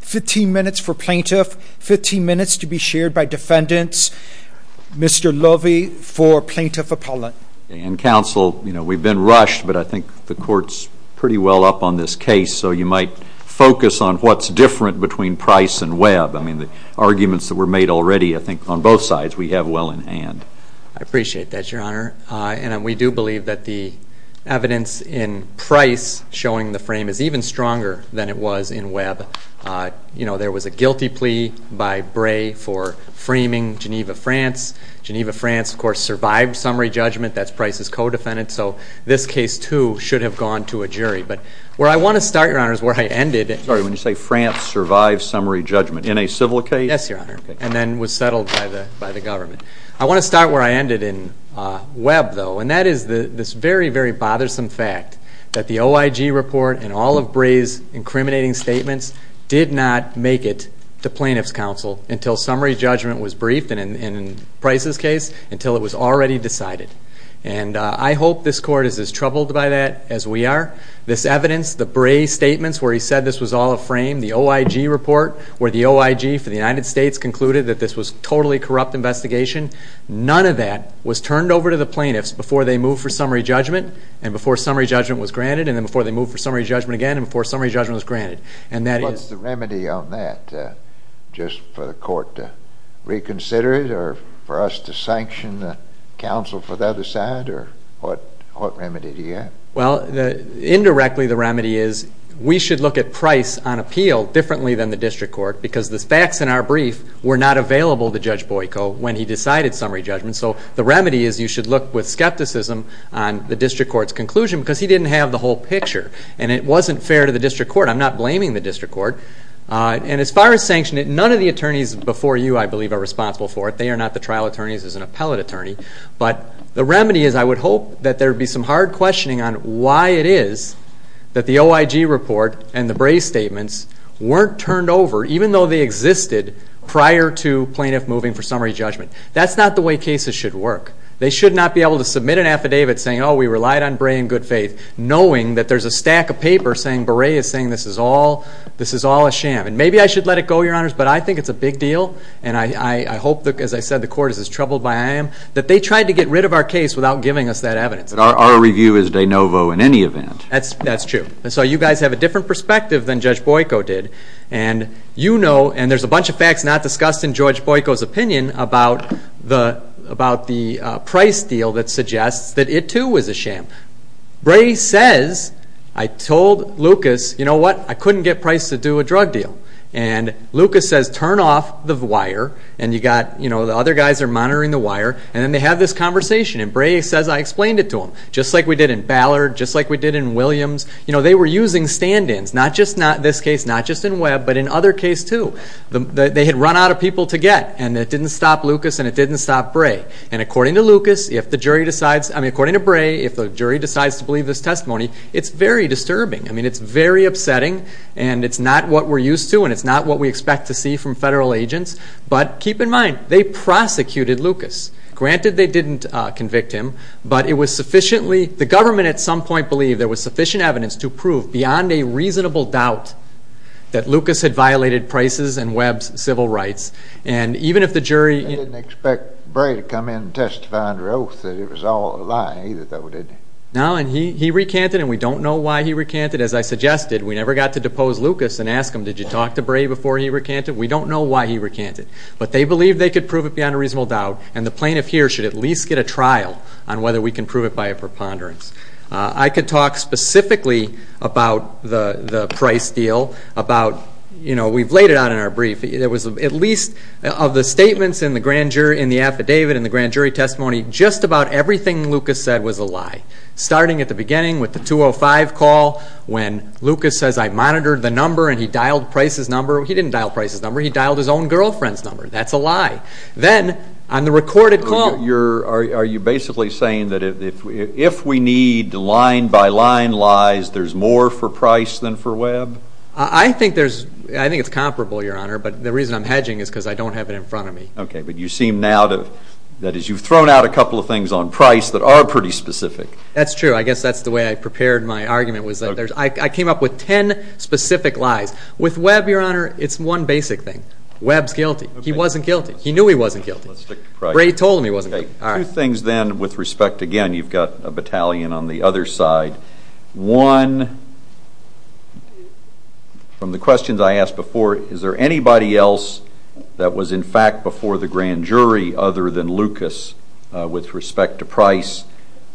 15 minutes for plaintiff, 15 minutes to be shared by defendants. Mr. Lovey for plaintiff appellate. And counsel, you know, we've been rushed, but I think the court's pretty well up on this case, so you might focus on what's different between Price and Webb. I mean, the arguments that were made already, I think, were that Price and Webb are different. I think on both sides we have well in hand. I appreciate that, Your Honor. And we do believe that the evidence in Price showing the frame is even stronger than it was in Webb. You know, there was a guilty plea by Bray for framing Geneva, France. Geneva, France, of course, survived summary judgment. That's Price's co-defendant. So this case, too, should have gone to a jury. But where I want to start, Your Honor, is where I ended. Sorry, when you say France survived summary judgment, in a civil case? Yes, Your Honor. And then was settled by the government. I want to start where I ended in Webb, though. And that is this very, very bothersome fact that the OIG report and all of Bray's incriminating statements did not make it to plaintiff's counsel until summary judgment was briefed, and in Price's case, until it was already decided. And I hope this Court is as troubled by that as we are. This evidence, the Bray statements where he said this was all a frame, the OIG report where the OIG for the United States concluded that this was a totally corrupt investigation, none of that was turned over to the plaintiffs before they moved for summary judgment, and before summary judgment was granted, and then before they moved for summary judgment again, and before summary judgment was granted. What's the remedy on that? Just for the Court to reconsider it, or for us to sanction the counsel for the other side, or what remedy do you have? Well, indirectly, the remedy is we should look at Price on appeal differently than the district court, because the facts in our brief were not available to Judge Boyko when he decided summary judgment. And so the remedy is you should look with skepticism on the district court's conclusion, because he didn't have the whole picture, and it wasn't fair to the district court. I'm not blaming the district court. And as far as sanctioning it, none of the attorneys before you, I believe, are responsible for it. They are not the trial attorneys as an appellate attorney. But the remedy is I would hope that there would be some hard questioning on why it is that the OIG report and the Bray statements weren't turned over, even though they existed prior to plaintiff moving for summary judgment. That's not the way cases should work. They should not be able to submit an affidavit saying, oh, we relied on Bray in good faith, knowing that there's a stack of paper saying Bray is saying this is all a sham. And maybe I should let it go, Your Honors, but I think it's a big deal, and I hope, as I said, the Court is as troubled by I am, that they tried to get rid of our case without giving us that evidence. But our review is de novo in any event. That's true. And so you guys have a different perspective than Judge Boyko did. And you know, and there's a bunch of facts not discussed in Judge Boyko's opinion about the price deal that suggests that it, too, was a sham. Bray says, I told Lucas, you know what, I couldn't get Price to do a drug deal. And Lucas says, turn off the wire, and you got, you know, the other guys are monitoring the wire, and then they have this conversation. And Bray says, I explained it to them, just like we did in Ballard, just like we did in Williams. You know, they were using stand-ins, not just in this case, not just in Webb, but in other cases, too. They had run out of people to get, and it didn't stop Lucas, and it didn't stop Bray. And according to Lucas, if the jury decides, I mean, according to Bray, if the jury decides to believe this testimony, it's very disturbing. I mean, it's very upsetting, and it's not what we're used to, and it's not what we expect to see from federal agents. But keep in mind, they prosecuted Lucas. Granted, they didn't convict him, but it was sufficiently, the government at some point believed there was sufficient evidence to prove, beyond a reasonable doubt, that Lucas had violated Price's and Webb's civil rights. And even if the jury- They didn't expect Bray to come in and testify under oath that it was all a lie, either, though, did they? No, and he recanted, and we don't know why he recanted. As I suggested, we never got to depose Lucas and ask him, did you talk to Bray before he recanted? We don't know why he recanted. But they believed they could prove it beyond a reasonable doubt, and the plaintiff here should at least get a trial on whether we can prove it by a preponderance. I could talk specifically about the Price deal, about, you know, we've laid it out in our brief. It was at least, of the statements in the grand jury, in the affidavit, in the grand jury testimony, just about everything Lucas said was a lie, starting at the beginning with the 205 call, when Lucas says, I monitored the number, and he dialed Price's number. He didn't dial Price's number. He dialed his own girlfriend's number. That's a lie. Then, on the recorded call- Are you basically saying that if we need line-by-line lies, there's more for Price than for Webb? I think there's-I think it's comparable, Your Honor, but the reason I'm hedging is because I don't have it in front of me. Okay, but you seem now to-that is, you've thrown out a couple of things on Price that are pretty specific. That's true. I guess that's the way I prepared my argument, was that I came up with ten specific lies. With Webb, Your Honor, it's one basic thing. Webb's guilty. He wasn't guilty. He knew he wasn't guilty. Let's stick to Price. Bray told him he wasn't guilty. Two things, then, with respect. Again, you've got a battalion on the other side. One, from the questions I asked before, is there anybody else that was, in fact, before the grand jury other than Lucas, with respect to Price,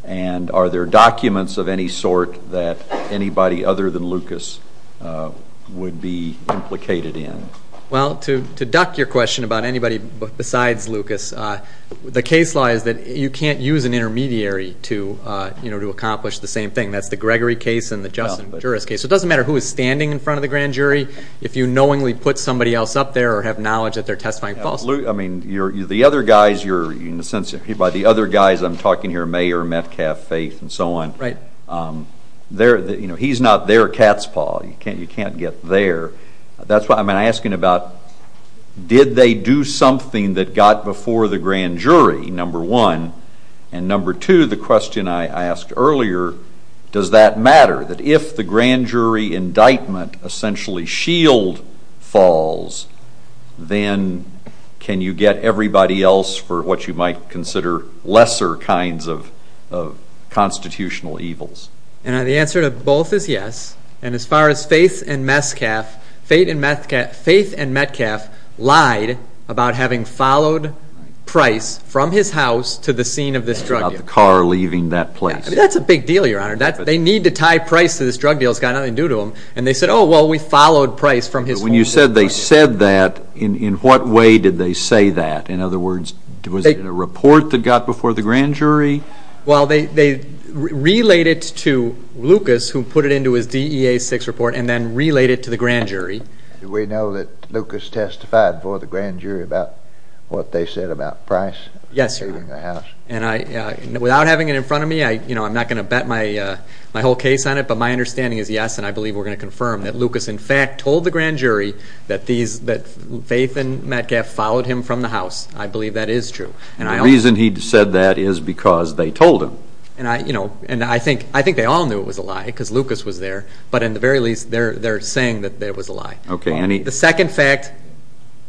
and are there documents of any sort that anybody other than Lucas would be implicated in? Well, to duck your question about anybody besides Lucas, the case law is that you can't use an intermediary to accomplish the same thing. That's the Gregory case and the Justin Juris case. It doesn't matter who is standing in front of the grand jury. If you knowingly put somebody else up there or have knowledge that they're testifying falsely- The other guys, I'm talking here, Mayer, Metcalf, Faith, and so on, he's not their cat's paw. You can't get there. That's why I'm asking about did they do something that got before the grand jury, number one, and number two, the question I asked earlier, does that matter, that if the grand jury indictment essentially shield falls, then can you get everybody else for what you might consider lesser kinds of constitutional evils? And the answer to both is yes. And as far as Faith and Metcalf, Faith and Metcalf lied about having followed Price from his house to the scene of this drug deal. About the car leaving that place. That's a big deal, Your Honor. They need to tie Price to this drug deal. It's got nothing to do to him. And they said, oh, well, we followed Price from his- But when you said they said that, in what way did they say that? In other words, was it a report that got before the grand jury? Well, they relayed it to Lucas, who put it into his DEA 6 report, and then relayed it to the grand jury. Do we know that Lucas testified before the grand jury about what they said about Price- Yes, sir. Without having it in front of me, I'm not going to bet my whole case on it, but my understanding is yes, and I believe we're going to confirm that Lucas, in fact, told the grand jury that Faith and Metcalf followed him from the house. I believe that is true. And the reason he said that is because they told him. And I think they all knew it was a lie because Lucas was there, but in the very least, they're saying that it was a lie. The second fact-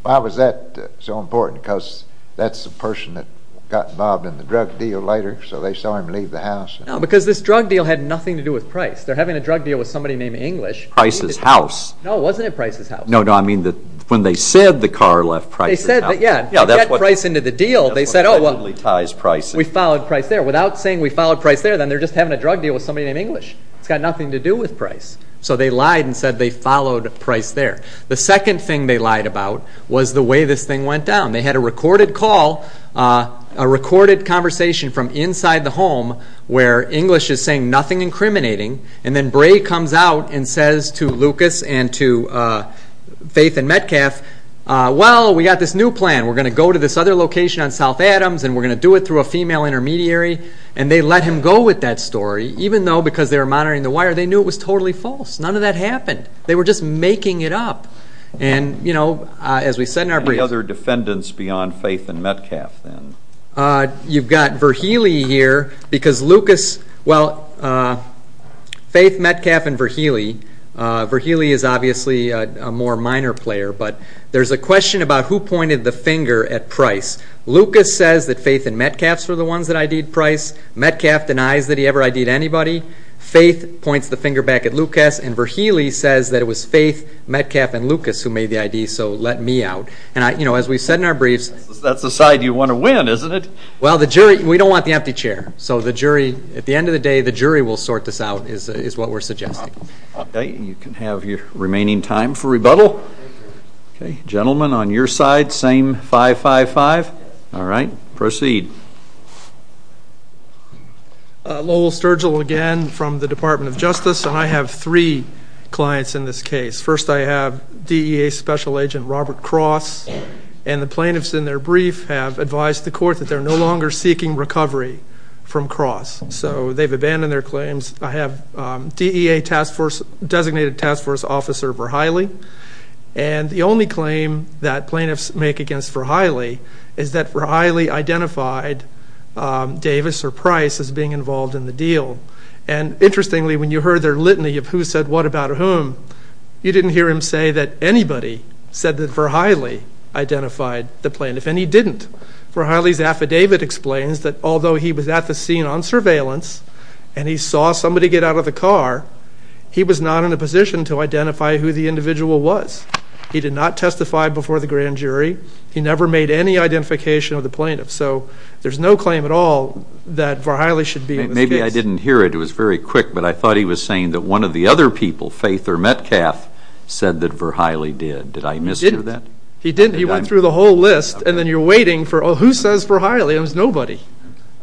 Why was that so important? Because that's the person that got involved in the drug deal later, so they saw him leave the house. No, because this drug deal had nothing to do with Price. They're having a drug deal with somebody named English. Price's house. No, it wasn't at Price's house. No, no, I mean when they said the car left Price's house. They said that, yeah, to get Price into the deal, they said, oh, well- That's what allegedly ties Price in. We followed Price there. Without saying we followed Price there, then they're just having a drug deal with somebody named English. It's got nothing to do with Price. So they lied and said they followed Price there. The second thing they lied about was the way this thing went down. They had a recorded call, a recorded conversation from inside the home where English is saying nothing incriminating, and then Bray comes out and says to Lucas and to Faith and Metcalf, well, we got this new plan. We're going to go to this other location on South Adams, and we're going to do it through a female intermediary. And they let him go with that story, even though because they were monitoring the wire, they knew it was totally false. None of that happened. They were just making it up. And, you know, as we said in our brief- Any other defendants beyond Faith and Metcalf, then? You've got Verheely here because Lucas- Well, Faith, Metcalf, and Verheely. Verheely is obviously a more minor player, but there's a question about who pointed the finger at Price. Lucas says that Faith and Metcalf's were the ones that ID'd Price. Metcalf denies that he ever ID'd anybody. Faith points the finger back at Lucas, and Verheely says that it was Faith, Metcalf, and Lucas who made the ID, so let me out. And, you know, as we said in our briefs- That's the side you want to win, isn't it? Well, the jury-we don't want the empty chair. So the jury-at the end of the day, the jury will sort this out is what we're suggesting. Okay. You can have your remaining time for rebuttal. Okay. Gentlemen, on your side, same 5-5-5. All right. Proceed. Lowell Sturgill again from the Department of Justice, and I have three clients in this case. First, I have DEA Special Agent Robert Cross, and the plaintiffs in their brief have advised the court that they're no longer seeking recovery from Cross, so they've abandoned their claims. I have DEA Task Force-designated Task Force Officer Verheely, and the only claim that plaintiffs make against Verheely is that Verheely identified Davis or Price as being involved in the deal. And interestingly, when you heard their litany of who said what about whom, you didn't hear him say that anybody said that Verheely identified the plaintiff, and he didn't. Verheely's affidavit explains that although he was at the scene on surveillance and he saw somebody get out of the car, he was not in a position to identify who the individual was. He did not testify before the grand jury. He never made any identification of the plaintiff, so there's no claim at all that Verheely should be in this case. Maybe I didn't hear it. It was very quick, but I thought he was saying that one of the other people, Faith or Metcalf, said that Verheely did. Did I mishear that? He didn't. He went through the whole list, and then you're waiting for, oh, who says Verheely? It was nobody,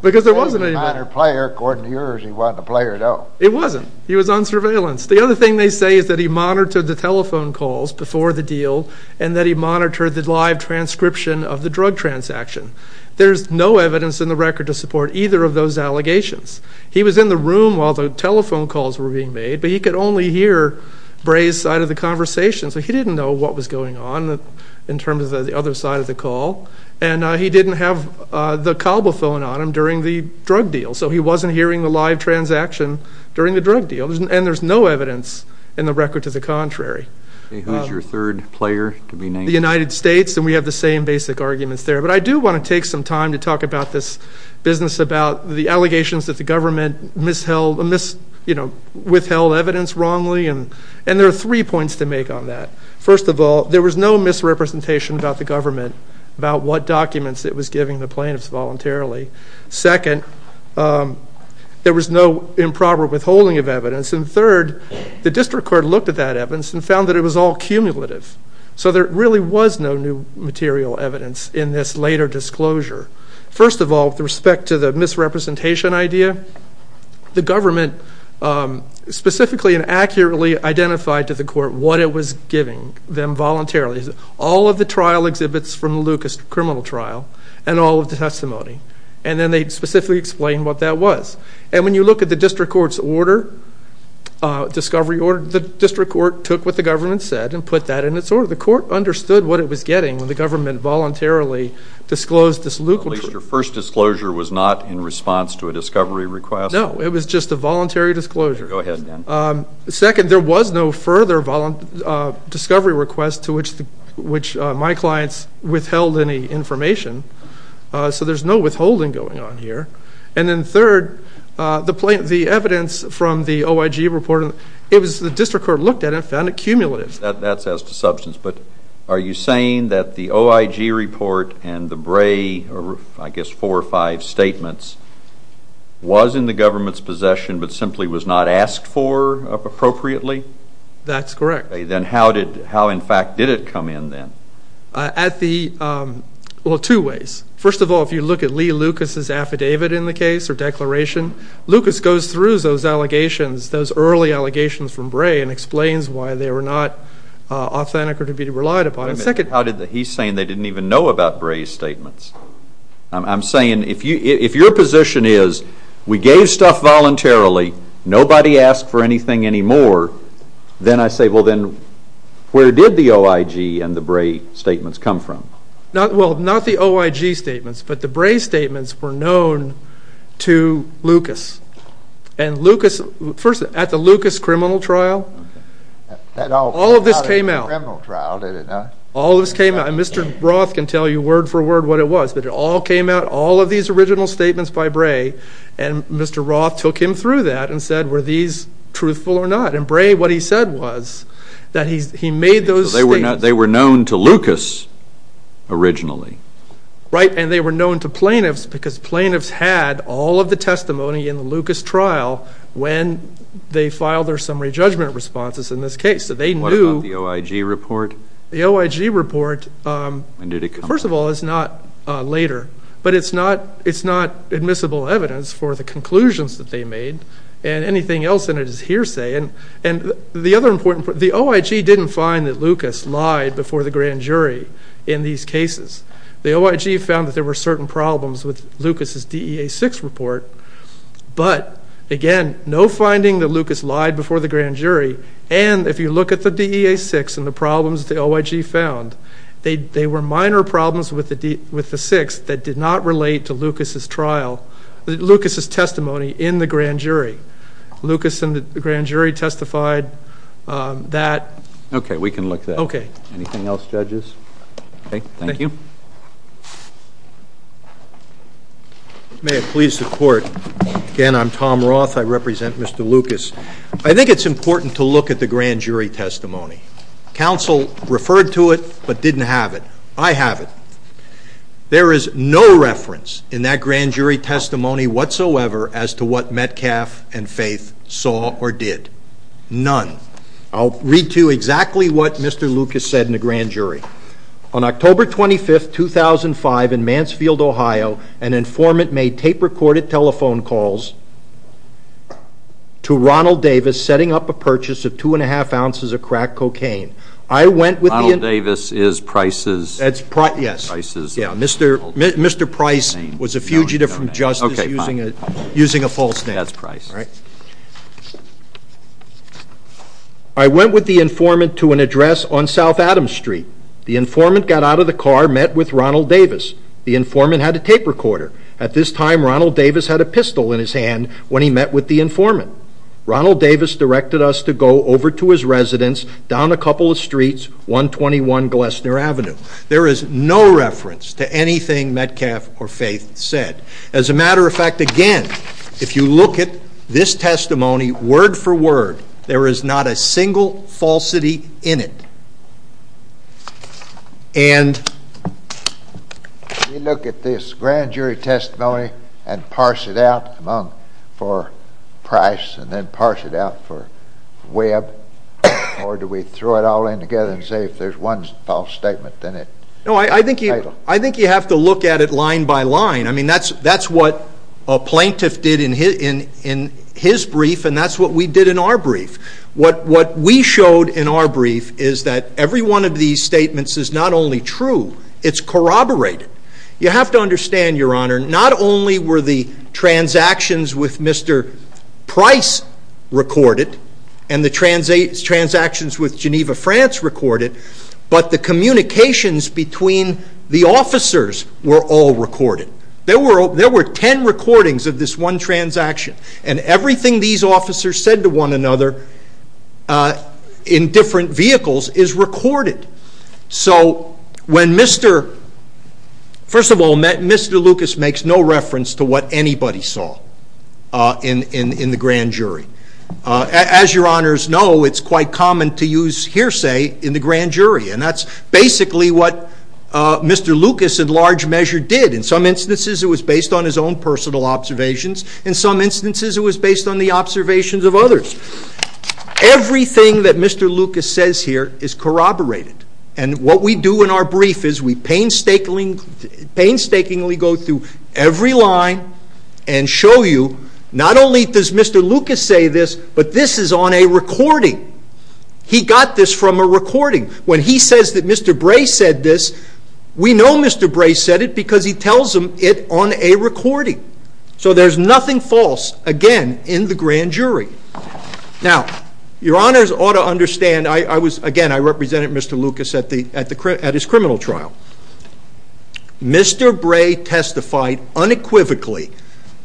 because there wasn't anybody. According to yours, he wasn't a player at all. It wasn't. He was on surveillance. The other thing they say is that he monitored the telephone calls before the deal and that he monitored the live transcription of the drug transaction. There's no evidence in the record to support either of those allegations. He was in the room while the telephone calls were being made, but he could only hear Bray's side of the conversation, so he didn't know what was going on in terms of the other side of the call, and he didn't have the cobble phone on him during the drug deal, so he wasn't hearing the live transaction during the drug deal, and there's no evidence in the record to the contrary. Who's your third player to be named? The United States, and we have the same basic arguments there. But I do want to take some time to talk about this business, about the allegations that the government withheld evidence wrongly, and there are three points to make on that. First of all, there was no misrepresentation about the government, about what documents it was giving the plaintiffs voluntarily. Second, there was no improper withholding of evidence, and third, the district court looked at that evidence and found that it was all cumulative, so there really was no new material evidence in this later disclosure. First of all, with respect to the misrepresentation idea, the government specifically and accurately identified to the court what it was giving them voluntarily. All of the trial exhibits from the Lucas criminal trial and all of the testimony, and then they specifically explained what that was. And when you look at the district court's order, discovery order, the district court took what the government said and put that in its order. The court understood what it was getting when the government voluntarily disclosed this Lucas. Your first disclosure was not in response to a discovery request? Go ahead, then. Second, there was no further discovery request to which my clients withheld any information, so there's no withholding going on here. And then third, the evidence from the OIG report, the district court looked at it and found it cumulative. That's as to substance, but are you saying that the OIG report and the Bray, I guess four or five statements, was in the government's possession but simply was not asked for appropriately? That's correct. Then how, in fact, did it come in then? Well, two ways. First of all, if you look at Lee Lucas's affidavit in the case or declaration, Lucas goes through those early allegations from Bray and explains why they were not authentic or to be relied upon. I'm saying if your position is we gave stuff voluntarily, nobody asked for anything anymore, then I say, well, then where did the OIG and the Bray statements come from? Well, not the OIG statements, but the Bray statements were known to Lucas. And Lucas, first, at the Lucas criminal trial, all of this came out. Mr. Roth can tell you word for word what it was, but it all came out, all of these original statements by Bray, and Mr. Roth took him through that and said, were these truthful or not? And Bray, what he said was that he made those statements. They were known to Lucas originally. Right, and they were known to plaintiffs because plaintiffs had all of the testimony in the Lucas trial when they filed their summary judgment responses in this case, so they knew. What about the OIG report? The OIG report, first of all, is not later, but it's not admissible evidence for the conclusions that they made and anything else in it is hearsay. And the OIG didn't find that Lucas lied before the grand jury in these cases. The OIG found that there were certain problems with Lucas's DEA-6 report, but, again, no finding that Lucas lied before the grand jury, and if you look at the DEA-6 and the problems the OIG found, they were minor problems with the 6 that did not relate to Lucas's trial, Lucas's testimony in the grand jury. Lucas in the grand jury testified that. Okay, we can look that up. Okay. Anything else, judges? Okay, thank you. May it please the Court. Again, I'm Tom Roth. I represent Mr. Lucas. I think it's important to look at the grand jury testimony. Counsel referred to it but didn't have it. I have it. There is no reference in that grand jury testimony whatsoever as to what Metcalf and Faith saw or did, none. I'll read to you exactly what Mr. Lucas said in the grand jury. On October 25, 2005, in Mansfield, Ohio, an informant made tape-recorded telephone calls to Ronald Davis setting up a purchase of two-and-a-half ounces of crack cocaine. Ronald Davis is Price's? Yes. Mr. Price was a fugitive from justice using a false name. That's Price. Right. I went with the informant to an address on South Adams Street. The informant got out of the car, met with Ronald Davis. The informant had a tape recorder. At this time, Ronald Davis had a pistol in his hand when he met with the informant. Ronald Davis directed us to go over to his residence down a couple of streets, 121 Glessner Avenue. There is no reference to anything Metcalf or Faith said. As a matter of fact, again, if you look at this testimony word for word, there is not a single falsity in it. If you look at this grand jury testimony and parse it out for Price and then parse it out for Webb, or do we throw it all in together and say if there is one false statement in it? I think you have to look at it line by line. That's what a plaintiff did in his brief, and that's what we did in our brief. What we showed in our brief is that every one of these statements is not only true, it's corroborated. You have to understand, Your Honor, not only were the transactions with Mr. Price recorded and the transactions with Geneva, France recorded, but the communications between the officers were all recorded. There were ten recordings of this one transaction, and everything these officers said to one another in different vehicles is recorded. First of all, Mr. Lucas makes no reference to what anybody saw in the grand jury. As Your Honors know, it's quite common to use hearsay in the grand jury, and that's basically what Mr. Lucas in large measure did. In some instances, it was based on his own personal observations. In some instances, it was based on the observations of others. Everything that Mr. Lucas says here is corroborated, and what we do in our brief is we painstakingly go through every line and show you not only does Mr. Lucas say this, but this is on a recording. He got this from a recording. When he says that Mr. Bray said this, we know Mr. Bray said it because he tells him it on a recording. So there's nothing false, again, in the grand jury. Now, Your Honors ought to understand. Again, I represented Mr. Lucas at his criminal trial. Mr. Bray testified unequivocally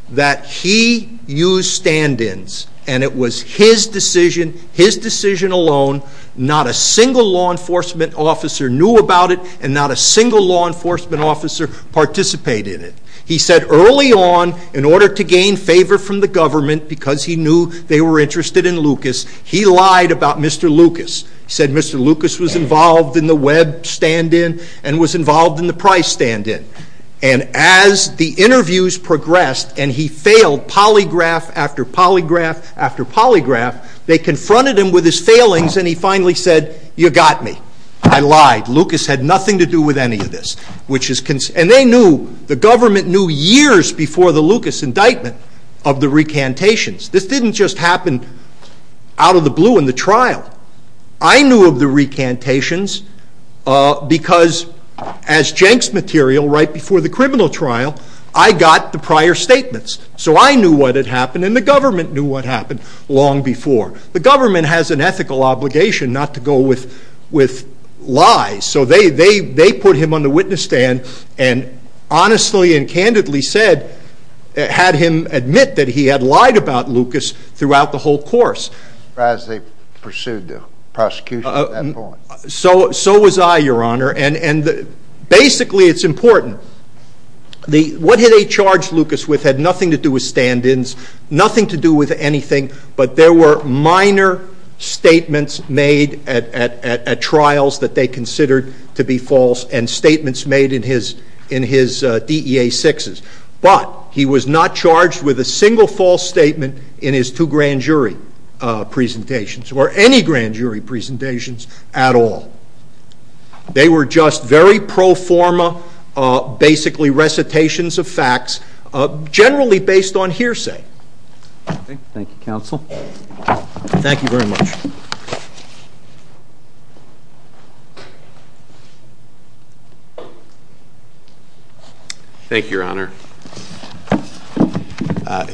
that he used stand-ins, and it was his decision, his decision alone. Not a single law enforcement officer knew about it, and not a single law enforcement officer participated in it. He said early on, in order to gain favor from the government, because he knew they were interested in Lucas, he lied about Mr. Lucas. He said Mr. Lucas was involved in the Webb stand-in and was involved in the Price stand-in. And as the interviews progressed, and he failed polygraph after polygraph after polygraph, they confronted him with his failings, and he finally said, you got me. I lied. Lucas had nothing to do with any of this. And they knew, the government knew years before the Lucas indictment of the recantations. This didn't just happen out of the blue in the trial. I knew of the recantations because, as Jenks material, right before the criminal trial, I got the prior statements. So I knew what had happened, and the government knew what happened long before. The government has an ethical obligation not to go with lies, so they put him on the witness stand and honestly and candidly said, had him admit that he had lied about Lucas throughout the whole course. As they pursued the prosecution at that point. So was I, Your Honor, and basically it's important. What they charged Lucas with had nothing to do with stand-ins, nothing to do with anything, but there were minor statements made at trials that they considered to be false and statements made in his DEA sixes. But he was not charged with a single false statement in his two grand jury presentations or any grand jury presentations at all. They were just very pro forma, basically recitations of facts, generally based on hearsay. Thank you, Counsel. Thank you very much. Thank you, Your Honor.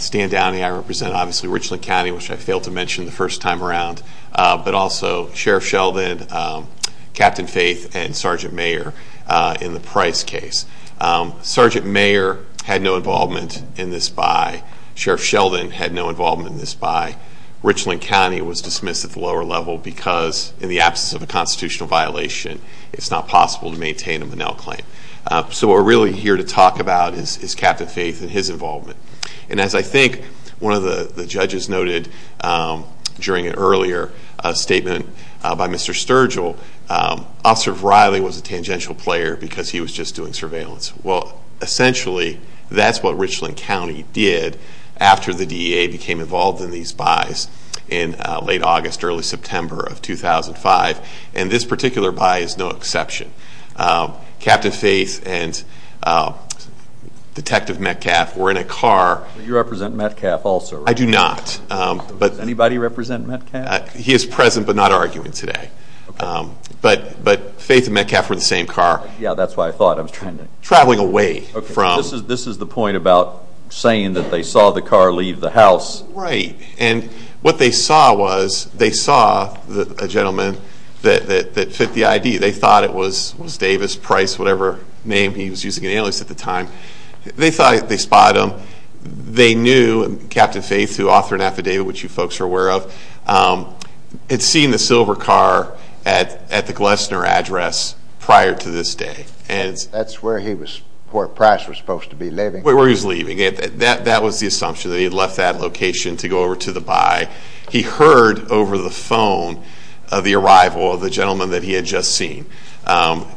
Stan Downing, I represent obviously Richland County, which I failed to mention the first time around, but also Sheriff Sheldon, Captain Faith, and Sergeant Mayer in the Price case. Sergeant Mayer had no involvement in this buy. Sheriff Sheldon had no involvement in this buy. Richland County was dismissed at the lower level because in the absence of a constitutional violation, it's not possible to maintain a Monell claim. So what we're really here to talk about is Captain Faith and his involvement. And as I think one of the judges noted during an earlier statement by Mr. Sturgill, Officer Riley was a tangential player because he was just doing surveillance. Well, essentially that's what Richland County did after the DEA became involved in these buys in late August, early September of 2005, and this particular buy is no exception. Captain Faith and Detective Metcalf were in a car. You represent Metcalf also, right? I do not. Does anybody represent Metcalf? He is present but not arguing today. But Faith and Metcalf were in the same car. Yeah, that's what I thought. I was trying to... Traveling away from... This is the point about saying that they saw the car leave the house. Right. And what they saw was they saw a gentleman that fit the ID. They thought it was Davis, Price, whatever name he was using, an alias at the time. They thought they spotted him. They knew Captain Faith, who authored an affidavit which you folks are aware of, had seen the silver car at the Glessner address prior to this day. That's where Price was supposed to be leaving. Where he was leaving. That was the assumption, that he had left that location to go over to the buy. He heard over the phone the arrival of the gentleman that he had just seen.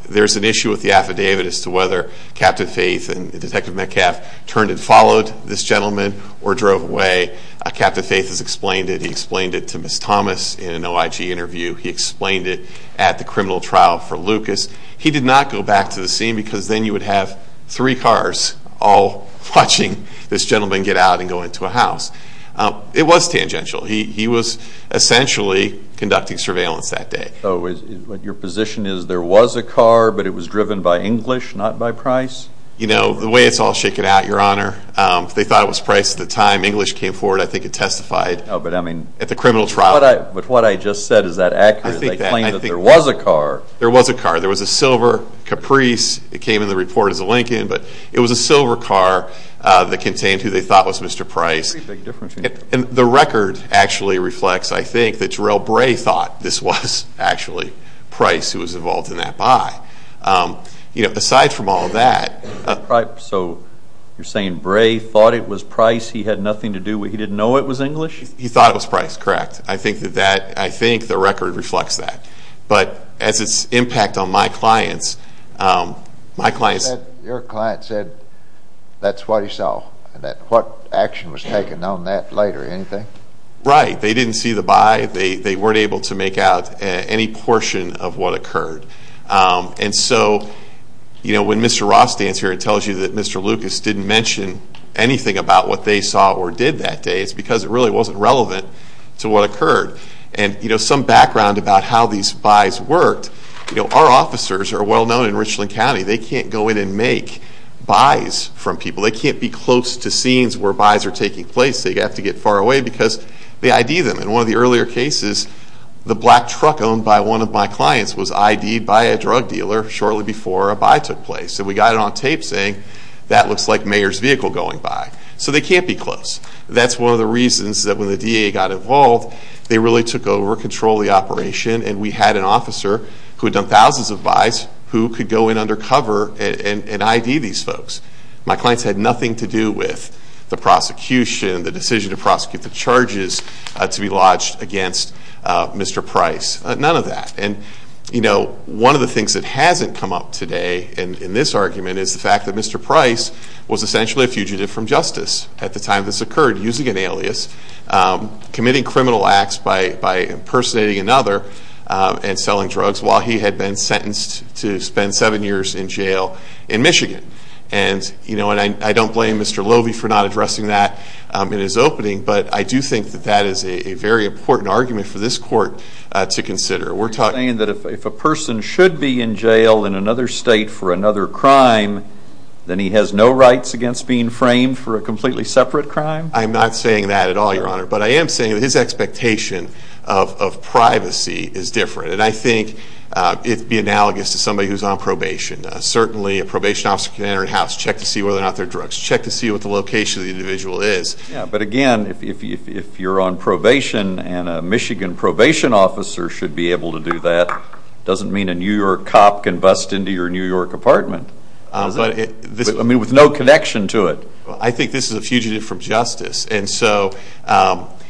There's an issue with the affidavit as to whether Captain Faith and Detective Metcalf turned and followed this gentleman or drove away. Captain Faith has explained it. He explained it to Ms. Thomas in an OIG interview. He explained it at the criminal trial for Lucas. He did not go back to the scene because then you would have three cars all watching this gentleman get out and go into a house. It was tangential. He was essentially conducting surveillance that day. So your position is there was a car, but it was driven by English, not by Price? You know, the way it's all shaken out, Your Honor, they thought it was Price at the time. English came forward, I think, and testified at the criminal trial. But what I just said, is that accurate? I think that. They claimed that there was a car. There was a car. There was a silver Caprice. It came in the report as a Lincoln. But it was a silver car that contained who they thought was Mr. Price. And the record actually reflects, I think, that Jarrell Bray thought this was actually Price who was involved in that buy. You know, aside from all that. So you're saying Bray thought it was Price. He had nothing to do with it. He didn't know it was English? He thought it was Price. Correct. I think the record reflects that. But as its impact on my clients, my clients... Your client said that's what he saw. What action was taken on that later? Anything? They didn't see the buy. They weren't able to make out any portion of what occurred. And so when Mr. Ross stands here and tells you that Mr. Lucas didn't mention anything about what they saw or did that day, it's because it really wasn't relevant to what occurred. And some background about how these buys worked. Our officers are well-known in Richland County. They can't go in and make buys from people. They can't be close to scenes where buys are taking place. They have to get far away because they ID them. In one of the earlier cases, the black truck owned by one of my clients was ID'd by a drug dealer shortly before a buy took place. So we got it on tape saying that looks like Mayor's vehicle going by. So they can't be close. That's one of the reasons that when the DA got involved, they really took over, controlled the operation, and we had an officer who had done thousands of buys who could go in undercover and ID these folks. My clients had nothing to do with the prosecution, the decision to prosecute the charges to be lodged against Mr. Price. None of that. And, you know, one of the things that hasn't come up today in this argument is the fact that Mr. Price was essentially a fugitive from justice at the time this occurred, using an alias, committing criminal acts by impersonating another and selling drugs while he had been sentenced to spend seven years in jail in Michigan. And, you know, I don't blame Mr. Loewe for not addressing that in his opening, but I do think that that is a very important argument for this court to consider. You're saying that if a person should be in jail in another state for another crime, then he has no rights against being framed for a completely separate crime? I'm not saying that at all, Your Honor. But I am saying that his expectation of privacy is different. And I think it would be analogous to somebody who's on probation. Certainly a probation officer can enter a house, check to see whether or not there are drugs, check to see what the location of the individual is. But, again, if you're on probation and a Michigan probation officer should be able to do that, it doesn't mean a New York cop can bust into your New York apartment with no connection to it. I think this is a fugitive from justice. And so,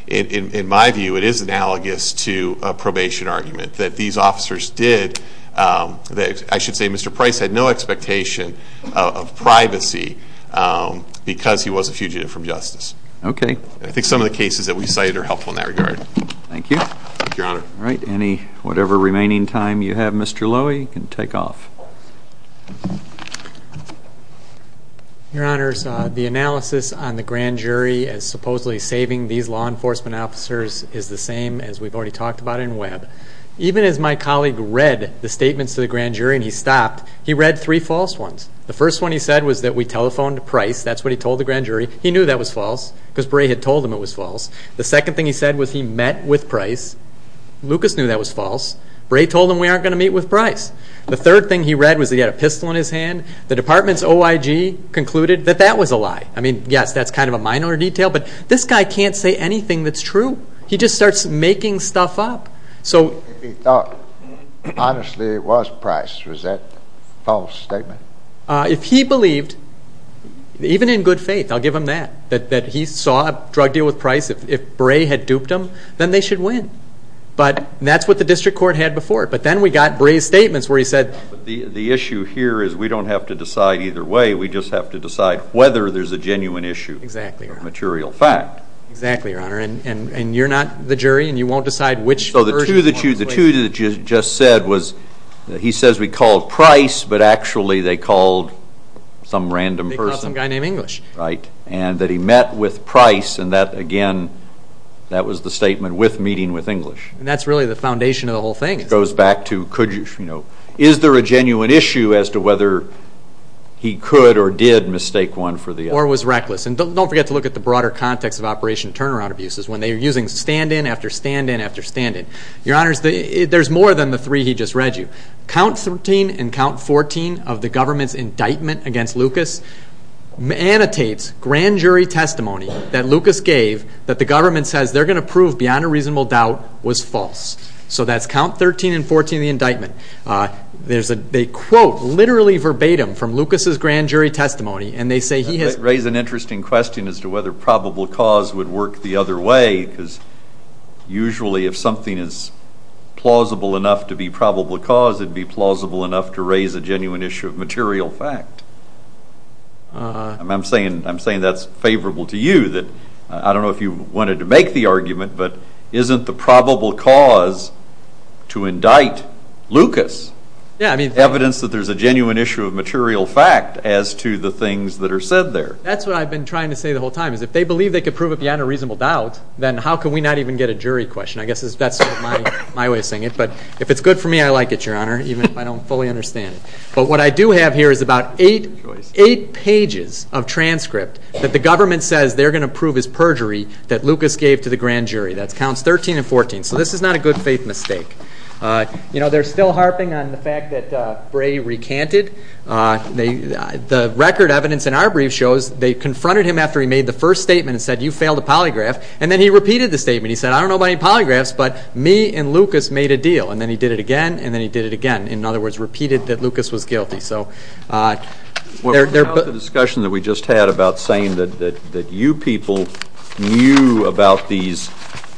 in my view, it is analogous to a probation argument that these officers did. I should say Mr. Price had no expectation of privacy because he was a fugitive from justice. Okay. I think some of the cases that we cited are helpful in that regard. Thank you. Thank you, Your Honor. All right. Any whatever remaining time you have, Mr. Lowy, you can take off. Your Honors, the analysis on the grand jury as supposedly saving these law enforcement officers is the same as we've already talked about in Webb. Even as my colleague read the statements to the grand jury and he stopped, he read three false ones. The first one he said was that we telephoned Price. That's what he told the grand jury. He knew that was false because Bray had told him it was false. The second thing he said was he met with Price. Lucas knew that was false. Bray told him we aren't going to meet with Price. The third thing he read was that he had a pistol in his hand. The department's OIG concluded that that was a lie. I mean, yes, that's kind of a minor detail, but this guy can't say anything that's true. He just starts making stuff up. If he thought honestly it was Price, was that a false statement? If he believed, even in good faith, I'll give him that, that he saw a drug deal with Price, if Bray had duped him, then they should win. But that's what the district court had before. But then we got Bray's statements where he said... The issue here is we don't have to decide either way. We just have to decide whether there's a genuine issue or a material fact. Exactly, Your Honor. And you're not the jury, and you won't decide which version you want to play. So the two that you just said was he says we called Price, but actually they called some random person. They called some guy named English. Right. And that he met with Price, and that, again, that was the statement, with meeting with English. And that's really the foundation of the whole thing. It goes back to is there a genuine issue as to whether he could or did mistake one for the other. Or was reckless. And don't forget to look at the broader context of Operation Turnaround Abuses when they are using stand-in after stand-in after stand-in. Your Honors, there's more than the three he just read you. Count 13 and Count 14 of the government's indictment against Lucas annotates grand jury testimony that Lucas gave that the government says they're going to prove beyond a reasonable doubt was false. So that's Count 13 and 14 of the indictment. They quote literally verbatim from Lucas's grand jury testimony, and they say he has... Raise an interesting question as to whether probable cause would work the other way, because usually if something is plausible enough to be probable cause, it would be plausible enough to raise a genuine issue of material fact. I'm saying that's favorable to you. I don't know if you wanted to make the argument, but isn't the probable cause to indict Lucas evidence that there's a genuine issue of material fact as to the things that are said there? That's what I've been trying to say the whole time, is if they believe they can prove it beyond a reasonable doubt, then how can we not even get a jury question? I guess that's my way of saying it. But if it's good for me, I like it, Your Honor, even if I don't fully understand it. But what I do have here is about eight pages of transcript that the government says they're going to prove is perjury that Lucas gave to the grand jury. That's Counts 13 and 14. So this is not a good faith mistake. You know, they're still harping on the fact that Bray recanted. The record evidence in our brief shows they confronted him after he made the first statement and said, you failed to polygraph. And then he repeated the statement. He said, I don't know about any polygraphs, but me and Lucas made a deal. And then he did it again, and then he did it again. In other words, repeated that Lucas was guilty. So they're both... What about the discussion that we just had about saying that you people knew about these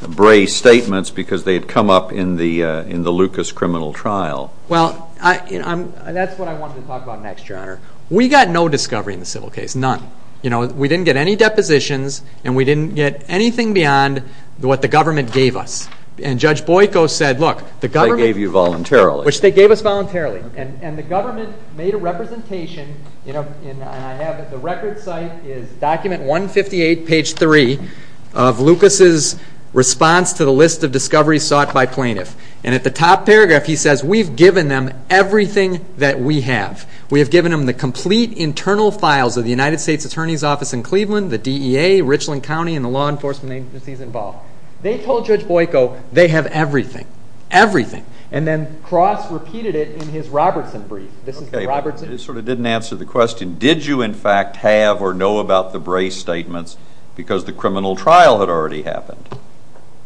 Bray statements because they had come up in the Lucas criminal trial? Well, that's what I wanted to talk about next, Your Honor. We got no discovery in the civil case, none. We didn't get any depositions, and we didn't get anything beyond what the government gave us. And Judge Boyko said, look, the government... They gave you voluntarily. Which they gave us voluntarily. And the government made a representation. The record site is document 158, page 3, of Lucas' response to the list of discoveries sought by plaintiffs. And at the top paragraph he says, we've given them everything that we have. We have given them the complete internal files of the United States Attorney's Office in Cleveland, the DEA, Richland County, and the law enforcement agencies involved. They told Judge Boyko they have everything. Everything. And then Cross repeated it in his Robertson brief. It sort of didn't answer the question. Did you, in fact, have or know about the Bray statements because the criminal trial had already happened?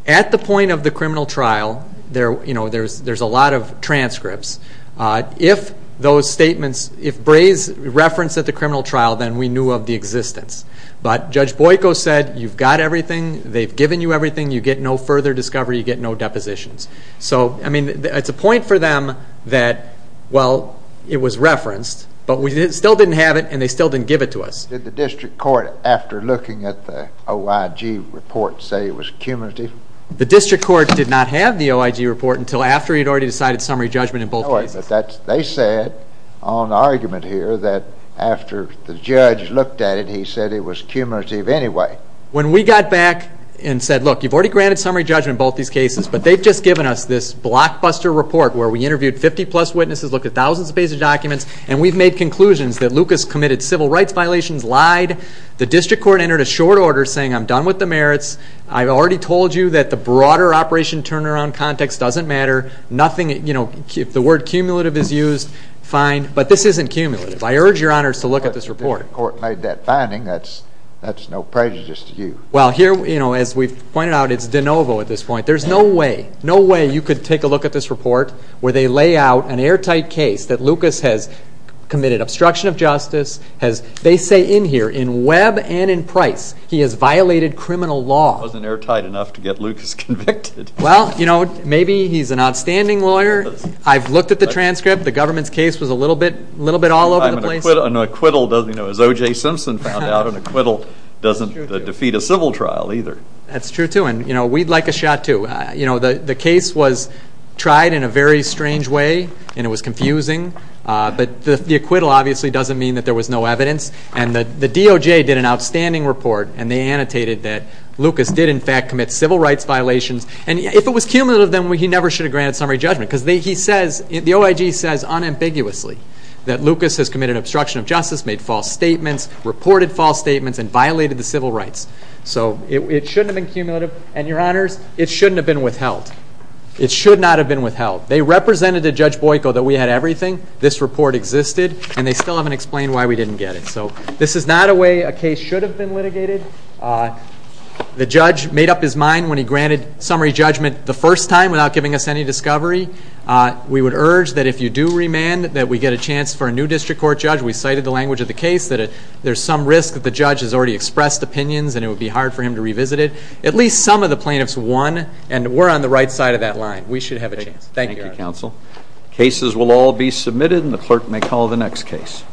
At the point of the criminal trial, there's a lot of transcripts. If those statements, if Bray's reference at the criminal trial, then we knew of the existence. But Judge Boyko said, you've got everything, they've given you everything, you get no further discovery, you get no depositions. So, I mean, it's a point for them that, well, it was referenced, but we still didn't have it and they still didn't give it to us. Did the district court, after looking at the OIG report, say it was cumulative? The district court did not have the OIG report until after he had already decided summary judgment in both cases. They said, on argument here, that after the judge looked at it, he said it was cumulative anyway. When we got back and said, look, you've already granted summary judgment in both these cases, but they've just given us this blockbuster report where we interviewed 50-plus witnesses, looked at thousands of pages of documents, and we've made conclusions that Lucas committed civil rights violations, lied. The district court entered a short order saying, I'm done with the merits. I've already told you that the broader operation turnaround context doesn't matter. Nothing, you know, if the word cumulative is used, fine. But this isn't cumulative. I urge your honors to look at this report. The district court made that finding. That's no prejudice to you. Well, here, you know, as we've pointed out, it's de novo at this point. There's no way, no way you could take a look at this report where they lay out an airtight case that Lucas has committed obstruction of justice. They say in here, in Webb and in Price, he has violated criminal law. It wasn't airtight enough to get Lucas convicted. Well, you know, maybe he's an outstanding lawyer. I've looked at the transcript. The government's case was a little bit all over the place. An acquittal doesn't, you know, as O.J. Simpson found out, an acquittal doesn't defeat a civil trial either. That's true, too. And, you know, we'd like a shot, too. You know, the case was tried in a very strange way, and it was confusing. But the acquittal obviously doesn't mean that there was no evidence. And the DOJ did an outstanding report, and they annotated that Lucas did, in fact, commit civil rights violations. And if it was cumulative, then he never should have granted summary judgment because he says, the OIG says unambiguously that Lucas has committed obstruction of justice, made false statements, reported false statements, and violated the civil rights. So it shouldn't have been cumulative. And, Your Honors, it shouldn't have been withheld. It should not have been withheld. They represented to Judge Boyko that we had everything, this report existed, and they still haven't explained why we didn't get it. So this is not a way a case should have been litigated. The judge made up his mind when he granted summary judgment the first time without giving us any discovery. We would urge that if you do remand, that we get a chance for a new district court judge. We cited the language of the case that there's some risk that the judge has already expressed opinions and it would be hard for him to revisit it. At least some of the plaintiffs won, and we're on the right side of that line. We should have a chance. Thank you, Your Honor. Thank you, counsel. Cases will all be submitted, and the clerk may call the next case.